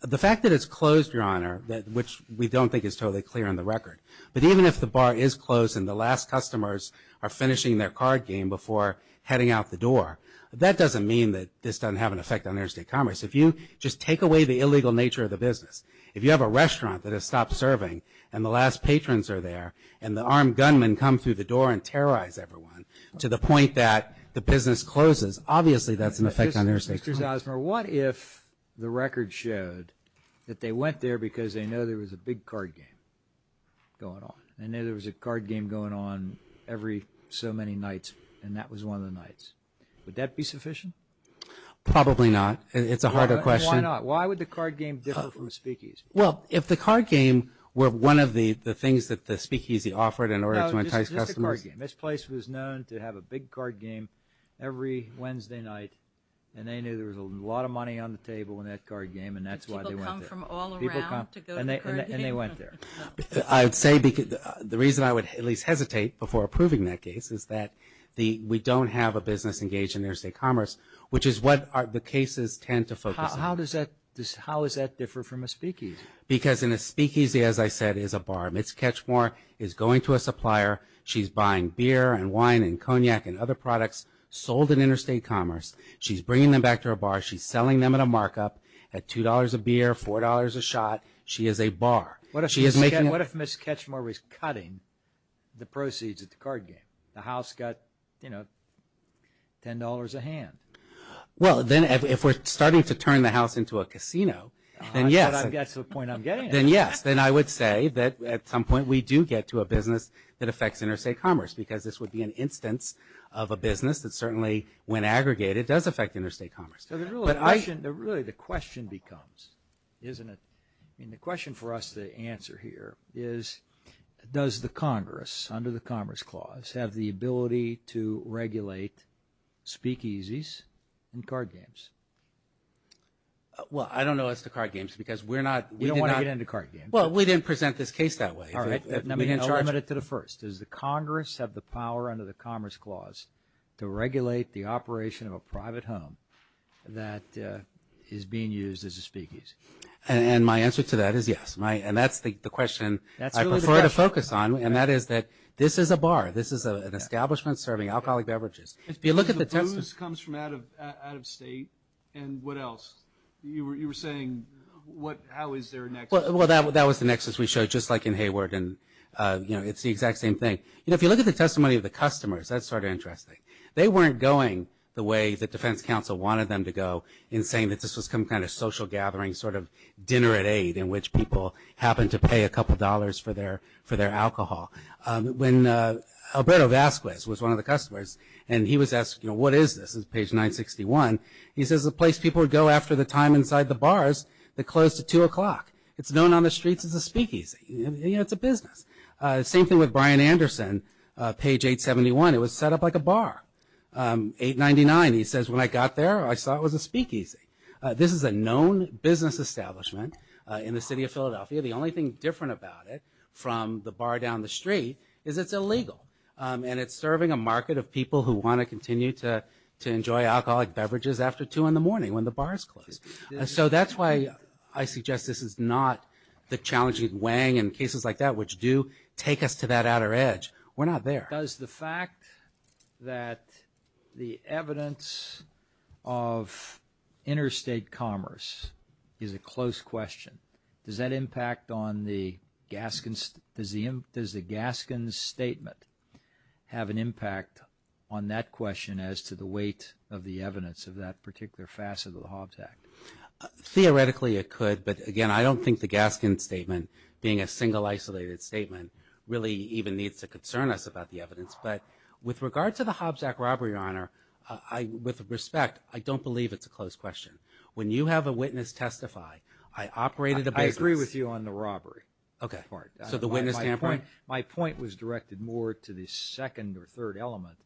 The fact that it's closed, Your Honor, that, which we don't think is totally clear in the record. But even if the bar is closed and the last customers are finishing their card game before heading out the door, that doesn't mean that this doesn't have an effect on interstate commerce. If you just take away the illegal nature of the business. If you have a restaurant that has stopped serving, and the last patrons are there, and the armed gunmen come through the door and terrorize everyone, to the point that the business closes. Obviously, that's an effect on interstate commerce. Mr. Zosmer, what if the record showed that they went there because they know there was a big card game going on, and there was a card game going on every so many nights, and that was one of the nights. Would that be sufficient? Probably not. It's a harder question. Why not? Why would the card game differ from the speakeas? Well, if the card game were one of the things that the speakeasy offered in order to entice customers. No, just the card game. This place was known to have a big card game every Wednesday night, and they knew there was a lot of money on the table in that card game, and that's why they went there. Did people come from all around to go to the card game? And they went there. I'd say the reason I would at least hesitate before approving that case is that we don't have a business engaged in interstate commerce, which is what the cases tend to focus on. How does that differ from a speakeasy? Because in a speakeasy, as I said, is a bar. Ms. Ketchmore is going to a supplier. She's buying beer and wine and cognac and other products sold in interstate commerce. She's bringing them back to her bar. She's selling them at a markup at $2 a beer, $4 a shot. She is a bar. What if Ms. Ketchmore was cutting the proceeds at the card game? The house got $10 a hand. Well, then if we're starting to turn the house into a casino, then yes. That's the point I'm getting at. Then yes. Then I would say that at some point we do get to a business that affects interstate commerce, because this would be an instance of a business that certainly, when aggregated, does affect interstate commerce. So really the question becomes, isn't it? I mean, the question for us to answer here is, does the Congress, under the Commerce Clause, have the ability to regulate speakeasies and card games? Well, I don't know as to card games, because we're not- We don't want to get into card games. Well, we didn't present this case that way. All right. Let me limit it to the first. Does the Congress have the power under the Commerce Clause to regulate the operation of a private home that is being used as a speakeasy? And my answer to that is yes. And that is that this is a bar. This is an establishment serving alcoholic beverages. If you look at the- The booze comes from out of state, and what else? You were saying, how is there a nexus? Well, that was the nexus we showed, just like in Hayward. And it's the exact same thing. If you look at the testimony of the customers, that's sort of interesting. They weren't going the way the Defense Council wanted them to go, in saying that this was some kind of social gathering, sort of dinner at eight, in which people happened to pay a couple dollars for their alcohol. When Alberto Vasquez was one of the customers, and he was asked, what is this? It's page 961. He says, the place people would go after the time inside the bars that closed at 2 o'clock. It's known on the streets as a speakeasy. It's a business. Same thing with Bryan Anderson, page 871. It was set up like a bar. 899, he says, when I got there, I saw it was a speakeasy. This is a known business establishment in the city of Philadelphia. The only thing different about it from the bar down the street is it's illegal. And it's serving a market of people who want to continue to enjoy alcoholic beverages after 2 in the morning when the bars close. So that's why I suggest this is not the challenging Wang and cases like that, which do take us to that outer edge. We're not there. Does the fact that the evidence of interstate commerce is a close question, does that impact on the Gaskins? Does the Gaskins statement have an impact on that question as to the weight of the evidence of that particular facet of the Hobbs Act? Theoretically, it could. But again, I don't think the Gaskins statement, being a single isolated statement, really even needs to concern us about the evidence. But with regard to the Hobbs Act robbery, Your Honor, with respect, I don't believe it's a close question. When you have a witness testify, I operated a business. I agree with you on the robbery part. So the witness standpoint? My point was directed more to the second or third element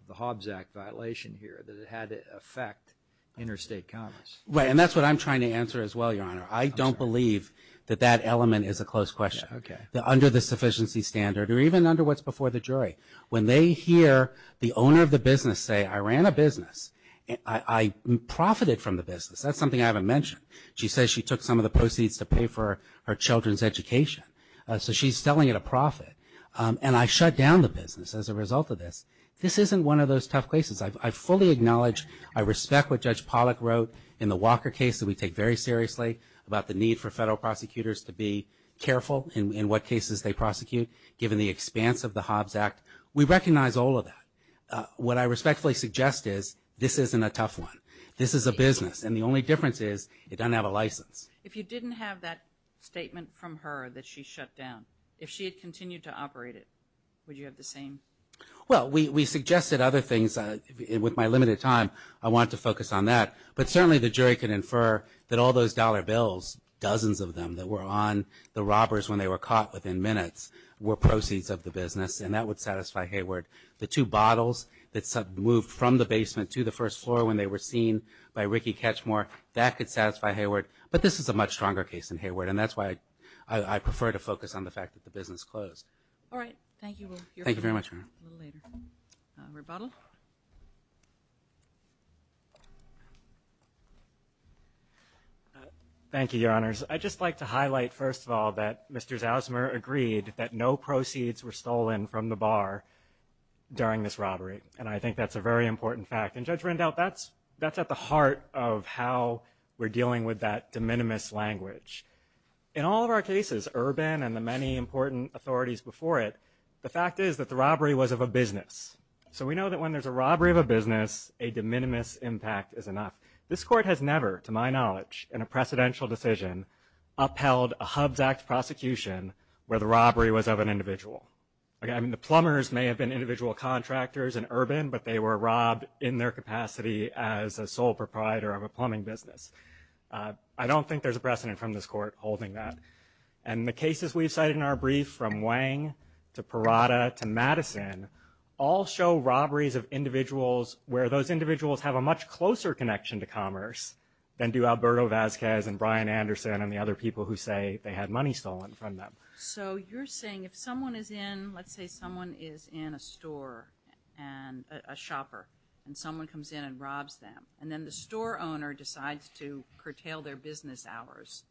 of the Hobbs Act violation here, that it had to affect interstate commerce. Right. And that's what I'm trying to answer as well, Your Honor. I don't believe that that element is a close question. Okay. Under the sufficiency standard or even under what's before the jury, when they hear the owner of the business say, I ran a business. I profited from the business. That's something I haven't mentioned. She says she took some of the proceeds to pay for her children's education. So she's selling it a profit. And I shut down the business as a result of this. This isn't one of those tough cases. I fully acknowledge, I respect what Judge Pollack wrote in the Walker case that we take very seriously about the need for federal prosecutors to be careful in what cases they prosecute, given the expanse of the Hobbs Act. We recognize all of that. What I respectfully suggest is this isn't a tough one. This is a business. And the only difference is it doesn't have a license. If you didn't have that statement from her that she shut down, if she had continued to operate it, would you have the same? Well, we suggested other things with my limited time. I want to focus on that. But certainly the jury could infer that all those dollar bills, dozens of them that were on the robbers when they were caught within minutes, were proceeds of the business. And that would satisfy Hayward. The two bottles that moved from the basement to the first floor when they were seen by Ricky Katchmore, that could satisfy Hayward. But this is a much stronger case than Hayward. And that's why I prefer to focus on the fact that the business closed. All right. Thank you. Thank you very much. Thank you, Your Honors. I'd just like to highlight, first of all, that Mr. Zausmer agreed that no during this robbery. And I think that's a very important fact. And Judge Rendell, that's at the heart of how we're dealing with that de minimis language. In all of our cases, Urban and the many important authorities before it, the fact is that the robbery was of a business. So we know that when there's a robbery of a business, a de minimis impact is enough. This Court has never, to my knowledge, in a precedential decision, upheld a HUBS Act prosecution where the robbery was of an individual. The plumbers may have been individual contractors in Urban, but they were robbed in their capacity as a sole proprietor of a plumbing business. I don't think there's a precedent from this Court holding that. And the cases we've cited in our brief, from Wang to Parada to Madison, all show robberies of individuals where those individuals have a much closer connection to commerce than do Alberto Vazquez and Brian Anderson and the other people who say they had money stolen from them. So you're saying if someone is in, let's say someone is in a store, and a shopper, and someone comes in and robs them, and then the store owner decides to curtail their business hours,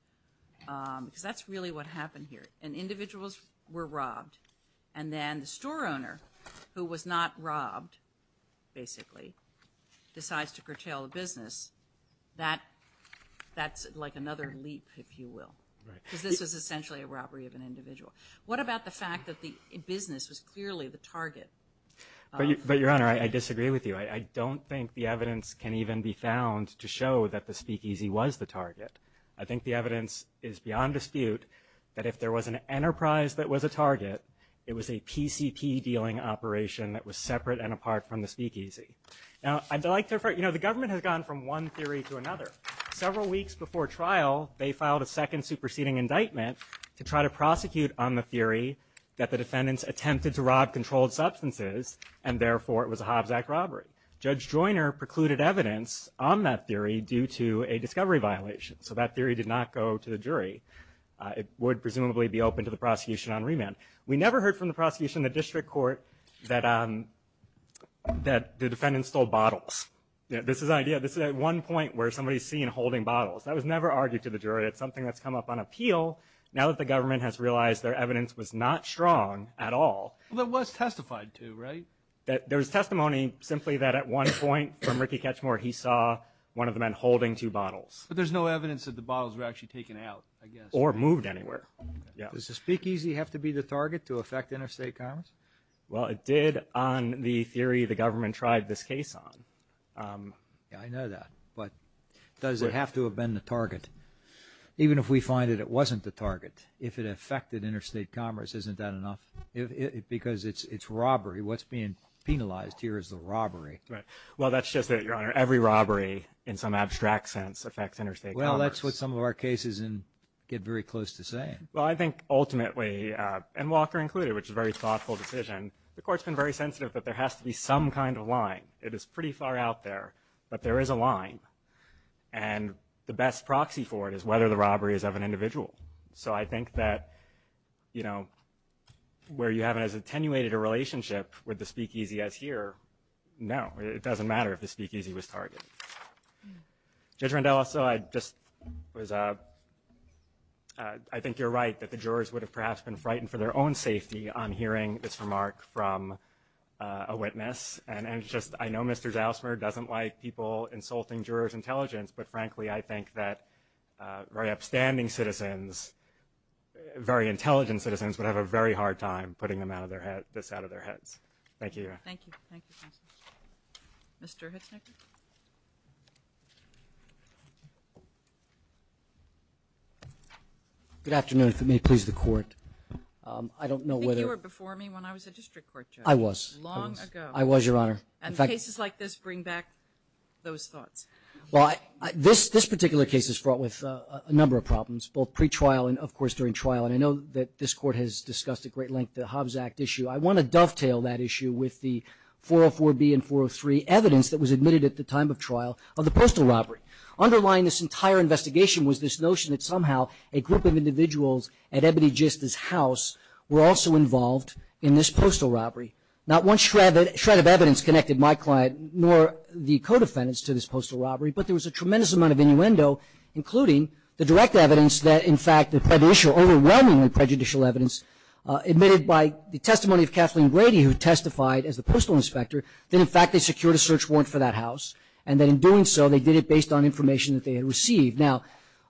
because that's really what happened here. And individuals were robbed, and then the store owner, who was not robbed, basically, decides to curtail the business, that, that's like another leap, if you will. Because this is essentially a robbery of an individual. What about the fact that the business was clearly the target? But Your Honor, I disagree with you. I don't think the evidence can even be found to show that the speakeasy was the target. I think the evidence is beyond dispute that if there was an enterprise that was a target, it was a PCP dealing operation that was separate and apart from the speakeasy. Now, I'd like to refer, you know, the government has gone from one theory to another. Several weeks before trial, they filed a second superseding indictment to try to prosecute on the theory that the defendants attempted to rob controlled substances, and therefore, it was a Hobbs Act robbery. Judge Joyner precluded evidence on that theory due to a discovery violation. So that theory did not go to the jury. It would presumably be open to the prosecution on remand. We never heard from the prosecution, the district court, that, that the defendants stole bottles. This is idea. This is at one point where somebody's seen holding bottles. That was never argued to the jury. It's something that's come up on appeal. Now that the government has realized their evidence was not strong at all. Well, it was testified to, right? That there was testimony simply that at one point from Ricky Ketchmore, he saw one of the men holding two bottles. But there's no evidence that the bottles were actually taken out, I guess. Or moved anywhere. Does the speakeasy have to be the target to affect interstate commerce? Well, it did on the theory the government tried this case on. Yeah, I know that. But does it have to have been the target? Even if we find that it wasn't the target. If it affected interstate commerce, isn't that enough? Because it's, it's robbery. What's being penalized here is the robbery. Right. Well, that's just it, Your Honor. Every robbery in some abstract sense affects interstate commerce. Well, that's what some of our cases get very close to saying. Well, I think ultimately, and Walker included, which is a very thoughtful decision. The court's been very sensitive that there has to be some kind of line. It is pretty far out there. But there is a line. And the best proxy for it is whether the robbery is of an individual. So I think that, you know, where you haven't as attenuated a relationship with the speakeasy as here, no. It doesn't matter if the speakeasy was targeted. Judge Rondella, so I just was, I think you're right. That the jurors would have perhaps been frightened for their own safety on hearing this remark from a witness. And it's just, I know Mr. Zausmer doesn't like people insulting jurors' intelligence. But frankly, I think that very upstanding citizens, very intelligent citizens would have a very hard time putting this out of their heads. Thank you, Your Honor. Thank you. Thank you, Constance. Mr. Hitznecker? Good afternoon. If it may please the court, I don't know whether- I think you were before me when I was a district court judge. I was. Long ago. And cases like this bring back those thoughts. Well, this particular case is fraught with a number of problems, both pre-trial and of course during trial. And I know that this court has discussed at great length the Hobbs Act issue. I want to dovetail that issue with the 404B and 403 evidence that was admitted at the time of trial of the postal robbery. Underlying this entire investigation was this notion that somehow a group of individuals at Ebony Gist's house were also involved in this postal robbery. Not one shred of evidence connected my client nor the co-defendants to this postal robbery, but there was a tremendous amount of innuendo, including the direct evidence that, in fact, the prejudicial- overwhelmingly prejudicial evidence admitted by the testimony of Kathleen Grady, who testified as the postal inspector, that in fact they secured a search warrant for that house, and that in doing so they did it based on information that they had received. Now,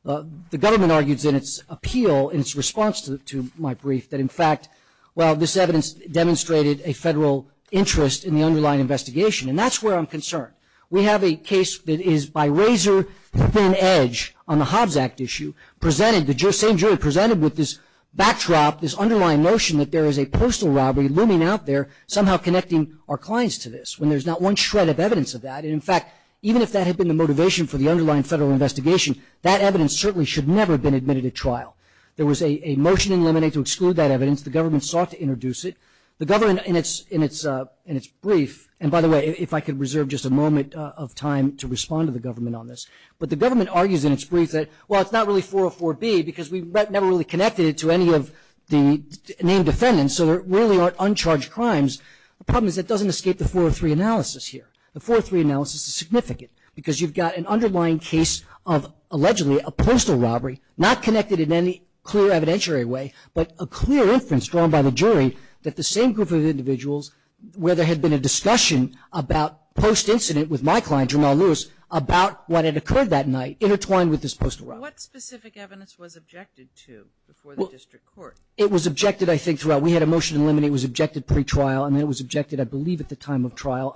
the government argues in its appeal, in its response to my brief, that in fact, well, this evidence demonstrated a federal interest in the underlying investigation. And that's where I'm concerned. We have a case that is by razor-thin edge on the Hobbs Act issue, presented- the same jury presented with this backdrop, this underlying notion that there is a postal robbery looming out there somehow connecting our clients to this, when there's not one shred of evidence of that. And in fact, even if that had been the motivation for the underlying federal investigation, that evidence certainly should never have been admitted at trial. There was a motion in limine to exclude that evidence. The government sought to introduce it. The government, in its brief- and by the way, if I could reserve just a moment of time to respond to the government on this. But the government argues in its brief that, well, it's not really 404B, because we never really connected it to any of the named defendants, so there really aren't uncharged crimes. The problem is it doesn't escape the 403 analysis here. The 403 analysis is significant, because you've got an underlying case of allegedly a postal robbery, not connected in any clear evidentiary way, but a clear inference drawn by the jury that the same group of individuals where there had been a discussion about post-incident with my client, Jermell Lewis, about what had occurred that night intertwined with this postal robbery. What specific evidence was objected to before the district court? It was objected, I think, throughout. We had a motion in limine it was objected pre-trial, and it was objected, I believe, at the time of trial.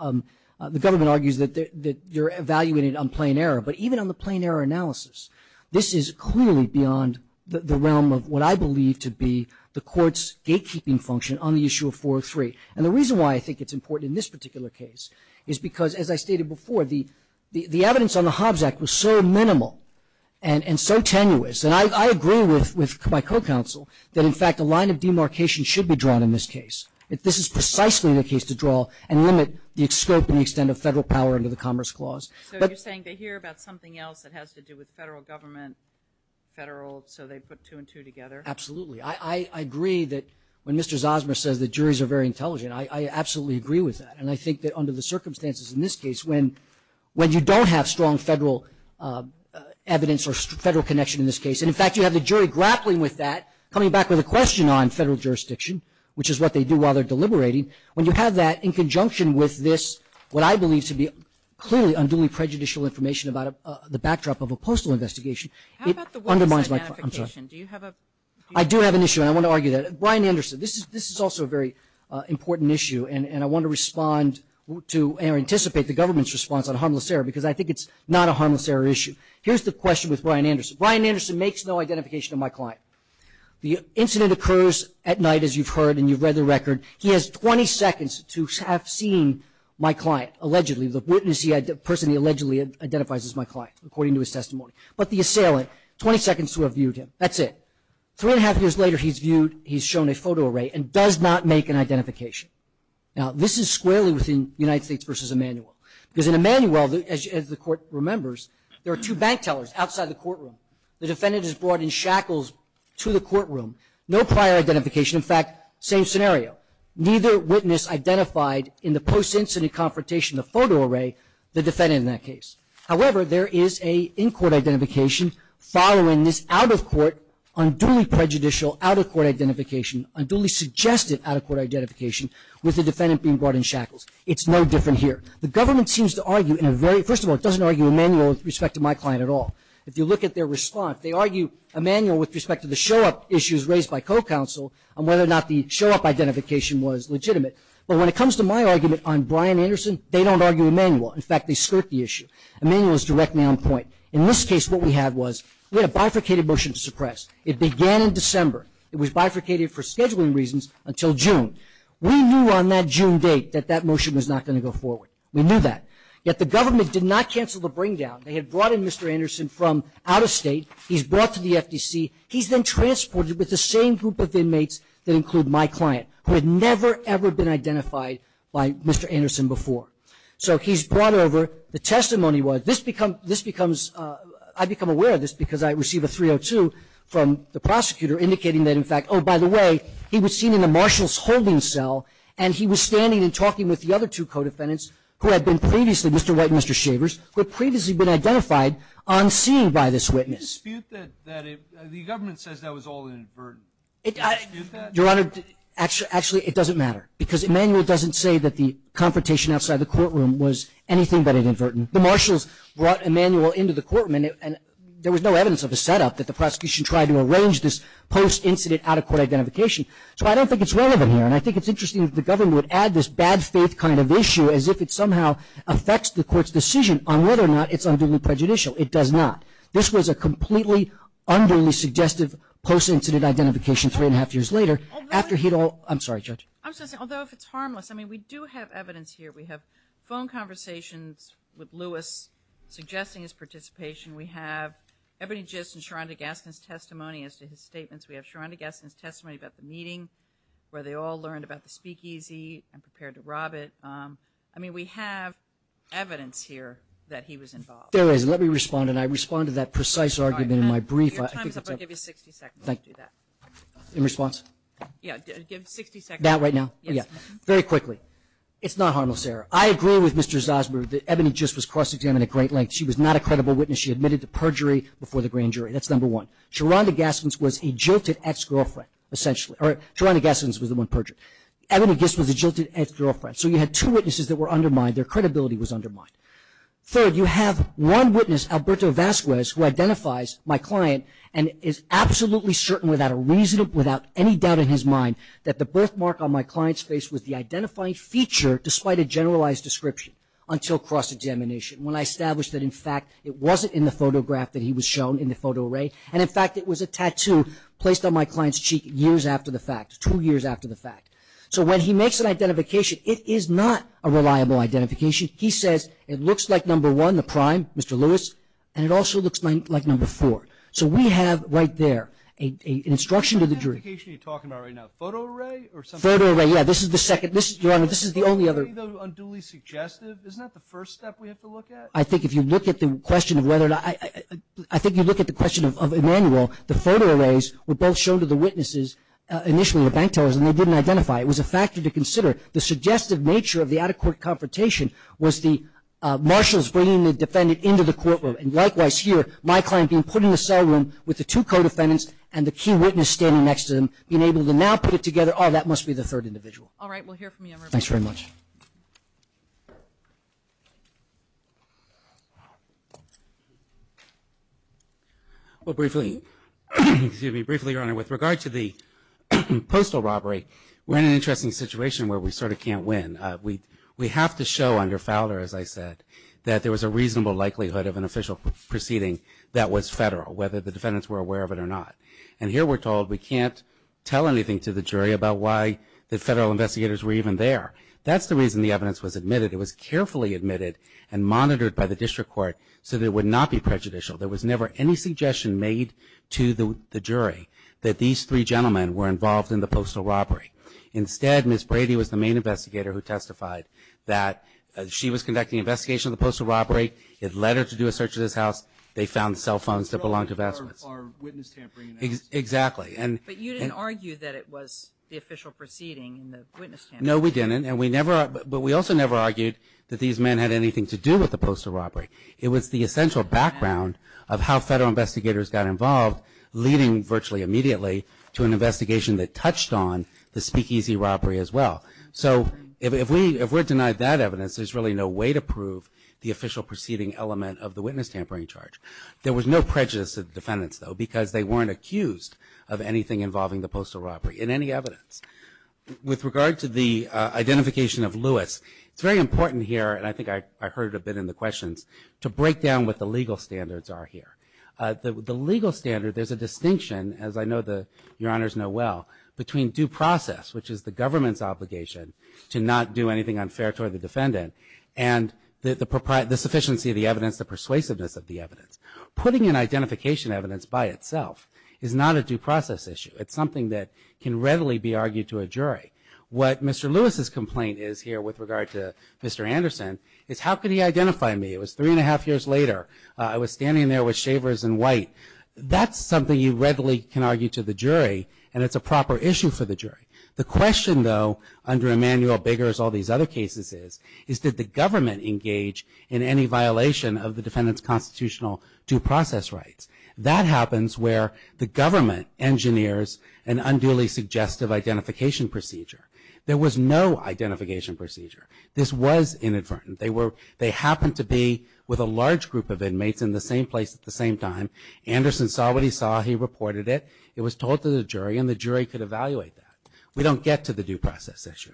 The government argues that you're evaluating it on plain error. But even on the plain error analysis, this is clearly beyond the realm of what I believe to be the court's gatekeeping function on the issue of 403. And the reason why I think it's important in this particular case is because, as I stated before, the evidence on the Hobbs Act was so minimal and so tenuous, and I agree with my co-counsel that, in fact, a line of demarcation should be drawn in this case. This is precisely the case to draw and limit the scope and the extent of federal power under the Commerce Clause. So you're saying to hear about something else that has to do with federal government, federal, so they put two and two together? Absolutely. I agree that when Mr. Zosma says the juries are very intelligent, I absolutely agree with that. And I think that under the circumstances in this case, when you don't have strong federal evidence or federal connection in this case, and, in fact, you have the jury grappling with that, coming back with a question on federal jurisdiction, which is what they do while they're deliberating, when you have that in conjunction with this, what I believe to be clearly unduly prejudicial information about the backdrop of a postal investigation, it undermines my client. I'm sorry. Do you have a... I do have an issue, and I want to argue that. Brian Anderson, this is also a very important issue, and I want to respond to or anticipate the government's response on harmless error because I think it's not a harmless error issue. Here's the question with Brian Anderson. Brian Anderson makes no identification of my client. The incident occurs at night, as you've heard, and you've read the record. He has 20 seconds to have seen my client, allegedly, the witness, the person he allegedly identifies as my client, according to his testimony, but the assailant, 20 seconds to have viewed him. That's it. Three and a half years later, he's viewed, he's shown a photo array and does not make an identification. Now, this is squarely within United States versus Emanuel because in Emanuel, as the court remembers, there are two bank tellers outside the courtroom. The defendant is brought in shackles to the courtroom, no prior identification. In fact, same scenario. Neither witness identified in the post-incident confrontation, the photo array, the defendant in that case. However, there is a in-court identification following this out-of-court, unduly prejudicial, out-of-court identification, unduly suggested out-of-court identification with the defendant being brought in shackles. It's no different here. The government seems to argue in a very, first of all, it doesn't argue Emanuel with respect to my client at all. If you look at their response, they argue Emanuel with respect to the show-up issues raised by co-counsel on whether or not the show-up identification was legitimate. But when it comes to my argument on Brian Anderson, they don't argue Emanuel. In fact, they skirt the issue. Emanuel is directly on point. In this case, what we had was, we had a bifurcated motion to suppress. It began in December. It was bifurcated for scheduling reasons until June. We knew on that June date that that motion was not going to go forward. We knew that. Yet the government did not cancel the bring-down. They had brought in Mr. Anderson from out-of-state. He's brought to the FDC. He's been transported with the same group of inmates that include my client, who had never, ever been identified by Mr. Anderson before. So he's brought over. The testimony was, I become aware of this because I receive a 302 from the prosecutor indicating that, in fact, oh, by the way, he was seen in the marshal's holding cell, and he was standing and talking with the other two co-defendants who had been previously, Mr. White and Mr. Shavers, who had previously been identified on scene by this witness. The government says that was all inadvertent. Do you dispute that? Your Honor, actually, it doesn't matter because Emanuel doesn't say that the confrontation outside the courtroom was anything but inadvertent. The marshals brought Emanuel into the courtroom, and there was no evidence of a setup that the prosecution tried to arrange this post-incident out-of-court identification. So I don't think it's relevant here, and I think it's interesting that the government would add this bad faith kind of issue as if it somehow affects the court's decision on whether or not it's unduly prejudicial. It does not. This was a completely unduly suggestive post-incident identification three and a half years later after he'd all... I'm sorry, Judge. I'm sorry. Although if it's harmless, I mean, we do have evidence here. We have phone conversations with Lewis suggesting his participation. We have Ebony Gist and Sharonda Gaskin's testimony as to his statements. We have Sharonda Gaskin's testimony about the meeting where they all learned about the speakeasy and prepared to rob it. I mean, we have evidence here that he was involved. There is, and let me respond, and I respond to that precise argument in my brief. Your time's up. I'll give you 60 seconds to do that. In response? Yeah, give 60 seconds. Now, right now? Yeah. Very quickly. It's not harmless, Sarah. I agree with Mr. Zosmer that Ebony Gist was cross-examined at great length. She was not a credible witness. She admitted to perjury before the grand jury. That's number one. Sharonda Gaskin's was a jilted ex-girlfriend, essentially, or Sharonda Gaskin's was the one perjured. Ebony Gist was a jilted ex-girlfriend. So you had two witnesses that were undermined. Their credibility was undermined. Third, you have one witness, Alberto Vasquez, who identifies my client and is absolutely certain without any doubt in his mind that the birthmark on my client's face was the identifying feature, despite a generalized description, until cross-examination, when I established that, in fact, it wasn't in the photograph that he was shown in the photo array, and, in fact, it was a tattoo placed on my client's cheek years after the fact, two years after the fact. So when he makes an identification, it is not a reliable identification. He says it looks like, number one, the prime, Mr. Lewis, and it also looks like number four. So we have, right there, an instruction to the jury. What identification are you talking about right now? Photo array or something? Photo array, yeah. This is the second. This, Your Honor, this is the only other. Isn't that either unduly suggestive? Isn't that the first step we have to look at? I think if you look at the question of whether or not... I think you look at the question of Emmanuel, the photo arrays were both shown to the witnesses, initially, the bank tellers, and they didn't identify. It was a factor to consider. The suggestive nature of the out-of-court confrontation was the marshals bringing the defendant into the courtroom, and likewise here, my client being put in the cell room with the two co-defendants and the key witness standing next to them, being able to now put it together, oh, that must be the third individual. All right, we'll hear from you. Thanks very much. Well, briefly, excuse me, briefly, Your Honor, with regard to the postal robbery, we're in an interesting situation where we sort of can't win. We have to show under Fowler, as I said, that there was a reasonable likelihood of an official proceeding that was federal, whether the defendants were aware of it or not. And here we're told we can't tell anything to the jury about why the federal investigators were even there. That's the reason the evidence was admitted. It was carefully admitted and monitored by the district court so that it would not be prejudicial. There was never any suggestion made to the jury that these three gentlemen were involved in the postal robbery. Instead, Ms. Brady was the main investigator who testified that she was conducting an investigation of the postal robbery. It led her to do a search of this house. They found cell phones that belonged to vestments. Or witness tampering analysis. Exactly. But you didn't argue that it was the official proceeding in the witness tampering. No, we didn't. And we never, but we also never argued that these men had anything to do with the postal robbery. It was the essential background of how federal investigators got involved, leading virtually immediately to an investigation that touched on the speakeasy robbery as well. So if we're denied that evidence, there's really no way to prove the official proceeding element of the witness tampering charge. There was no prejudice to the defendants, though, because they weren't accused of anything involving the postal robbery in any evidence. With regard to the identification of Lewis, it's very important here, and I think I heard it a bit in the questions, to break down what the legal standards are here. The legal standard, there's a distinction, as I know your honors know well, between due process, which is the government's obligation to not do anything unfair toward the defendant, and the sufficiency of the evidence, the persuasiveness of the evidence. Putting in identification evidence by itself is not a due process issue. It's something that can readily be argued to a jury. What Mr. Lewis's complaint is here with regard to Mr. Anderson is how could he identify me? It was three and a half years later. I was standing there with shavers and white. That's something you readily can argue to the jury, and it's a proper issue for the jury. The question, though, under Emanuel, Biggers, all these other cases is, is did the government engage in any violation of the defendant's constitutional due process rights? That happens where the government engineers an unduly suggestive identification procedure. There was no identification procedure. This was inadvertent. They happened to be with a large group of inmates in the same place at the same time. Anderson saw what he saw. He reported it. It was told to the jury, and the jury could evaluate that. We don't get to the due process issue.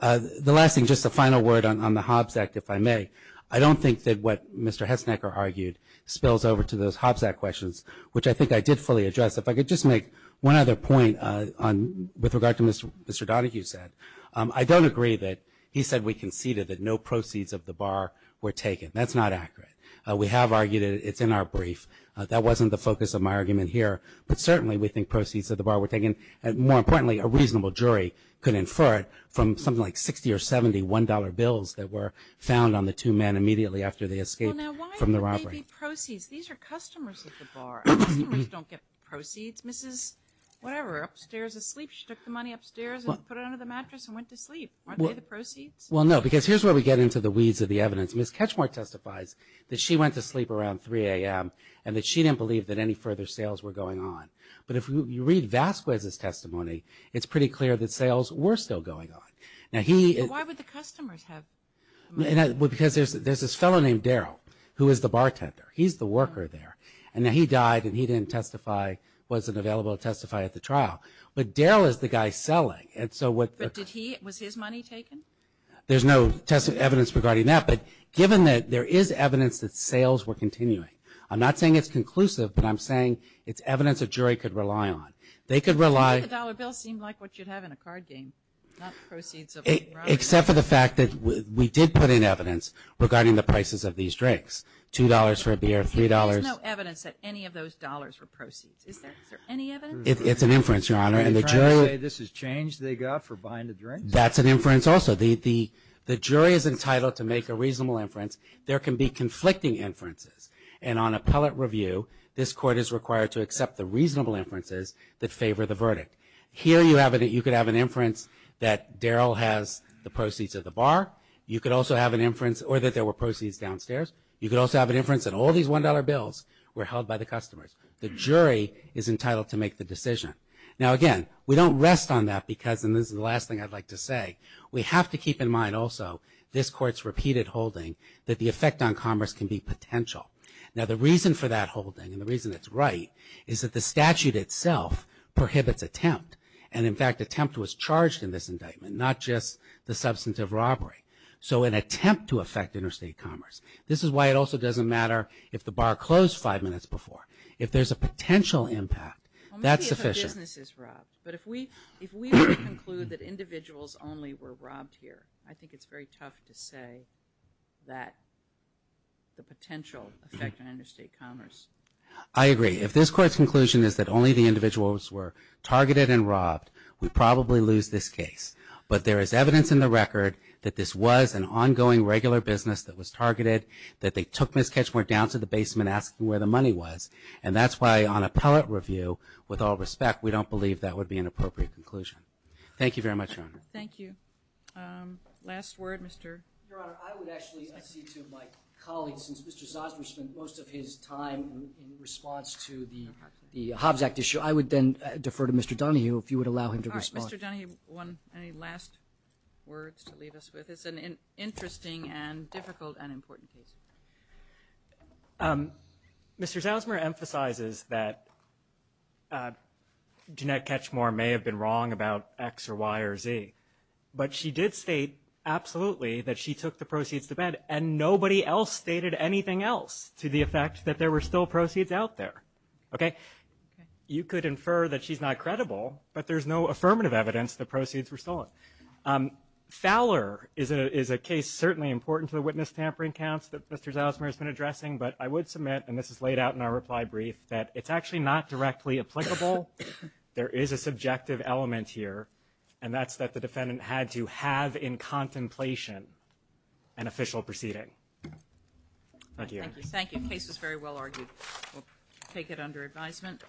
The last thing, just a final word on the Hobbs Act, if I may. I don't think that what Mr. Hesnecker argued spills over to those Hobbs Act questions, which I think I did fully address. If I could just make one other point with regard to Mr. Donahue said. I don't agree that he said we conceded that no proceeds of the bar were taken. That's not accurate. We have argued it. It's in our brief. That wasn't the focus of my argument here, but certainly we think proceeds of the bar were taken, and more importantly, a reasonable jury could infer it from something like 60 or 70 $1 bills that were found on the two men immediately after they escaped from the robbery. Well, now, why would they be proceeds? These are customers at the bar. Customers don't get proceeds. Mrs. Whatever, upstairs asleep. She took the money upstairs and put it under the mattress and went to sleep. Aren't they the proceeds? Well, no, because here's where we get into the weeds of the evidence. Ms. Ketchmore testifies that she went to sleep around 3 a.m. and that she didn't believe that any further sales were going on, but if you read Vasquez's testimony, it's pretty clear that sales were still going on. Now, he... Why would the customers have money? Because there's this fellow named Daryl who is the bartender. He's the worker there, and he died, and he didn't testify, wasn't available to testify at the trial, but Daryl is the guy selling, and so what... But did he... Was his money taken? There's no evidence regarding that, but given that there is evidence that sales were continuing, I'm not saying it's conclusive, but I'm saying it's evidence a jury could rely on. They could rely... You made the dollar bill seem like what you'd have in a card game, not the proceeds of... Except for the fact that we did put in evidence regarding the prices of these drinks, $2 for a beer, $3... There's no evidence that any of those dollars were proceeds. Is there any evidence? It's an inference, Your Honor, and the jury... Are you trying to say this is change they got for buying the drinks? That's an inference also. The jury is entitled to make a reasonable inference. There can be conflicting inferences, and on appellate review, this court is required to accept the reasonable inferences that favor the verdict. Here, you could have an inference that Daryl has the proceeds of the bar. You could also have an inference... Or that there were proceeds downstairs. You could also have an inference that all these $1 bills were held by the customers. The jury is entitled to make the decision. Now, again, we don't rest on that because, and this is the last thing I'd like to say, we have to keep in mind also this court's repeated holding that the effect on commerce can be potential. Now, the reason for that holding, and the reason it's right, is that the statute itself prohibits attempt. And, in fact, attempt was charged in this indictment, not just the substance of robbery. So, an attempt to affect interstate commerce. This is why it also doesn't matter if the bar closed five minutes before. If there's a potential impact, that's sufficient. Maybe if a business is robbed, but if we were to conclude that individuals only were robbed here, I think it's very tough to say that the potential effect on interstate commerce. I agree. If this court's conclusion is that only the individuals were targeted and robbed, we'd probably lose this case. But there is evidence in the record that this was an ongoing regular business that was targeted, that they took Miss Ketchmore down to the basement asking where the money was. And that's why on appellate review, with all respect, we don't believe that would be an appropriate conclusion. Thank you very much, Your Honor. Thank you. Last word, Mr. Your Honor, I would actually see to my colleagues, since Mr. Zosmer spent most of his time in response to the Hobbs Act issue, I would then defer to Mr. Donahue if you would allow him to respond. Mr. Donahue, any last words to leave us with? It's an interesting and difficult and important case. Mr. Zosmer emphasizes that Jeanette Ketchmore may have been wrong about X or Y or Z, but she did state absolutely that she took the proceeds to bed and nobody else stated anything else to the effect that there were still proceeds out there. You could infer that she's not credible, but there's no affirmative evidence the proceeds were stolen. Fowler is a case certainly important to the witness tampering counts that Mr. Zosmer has been addressing, but I would submit, and this is laid out in our reply brief, that it's actually not directly applicable. There is a subjective element here, and that's that the defendant had to have in contemplation an official proceeding. Thank you. Thank you. Case is very well argued. We'll take it under advisement.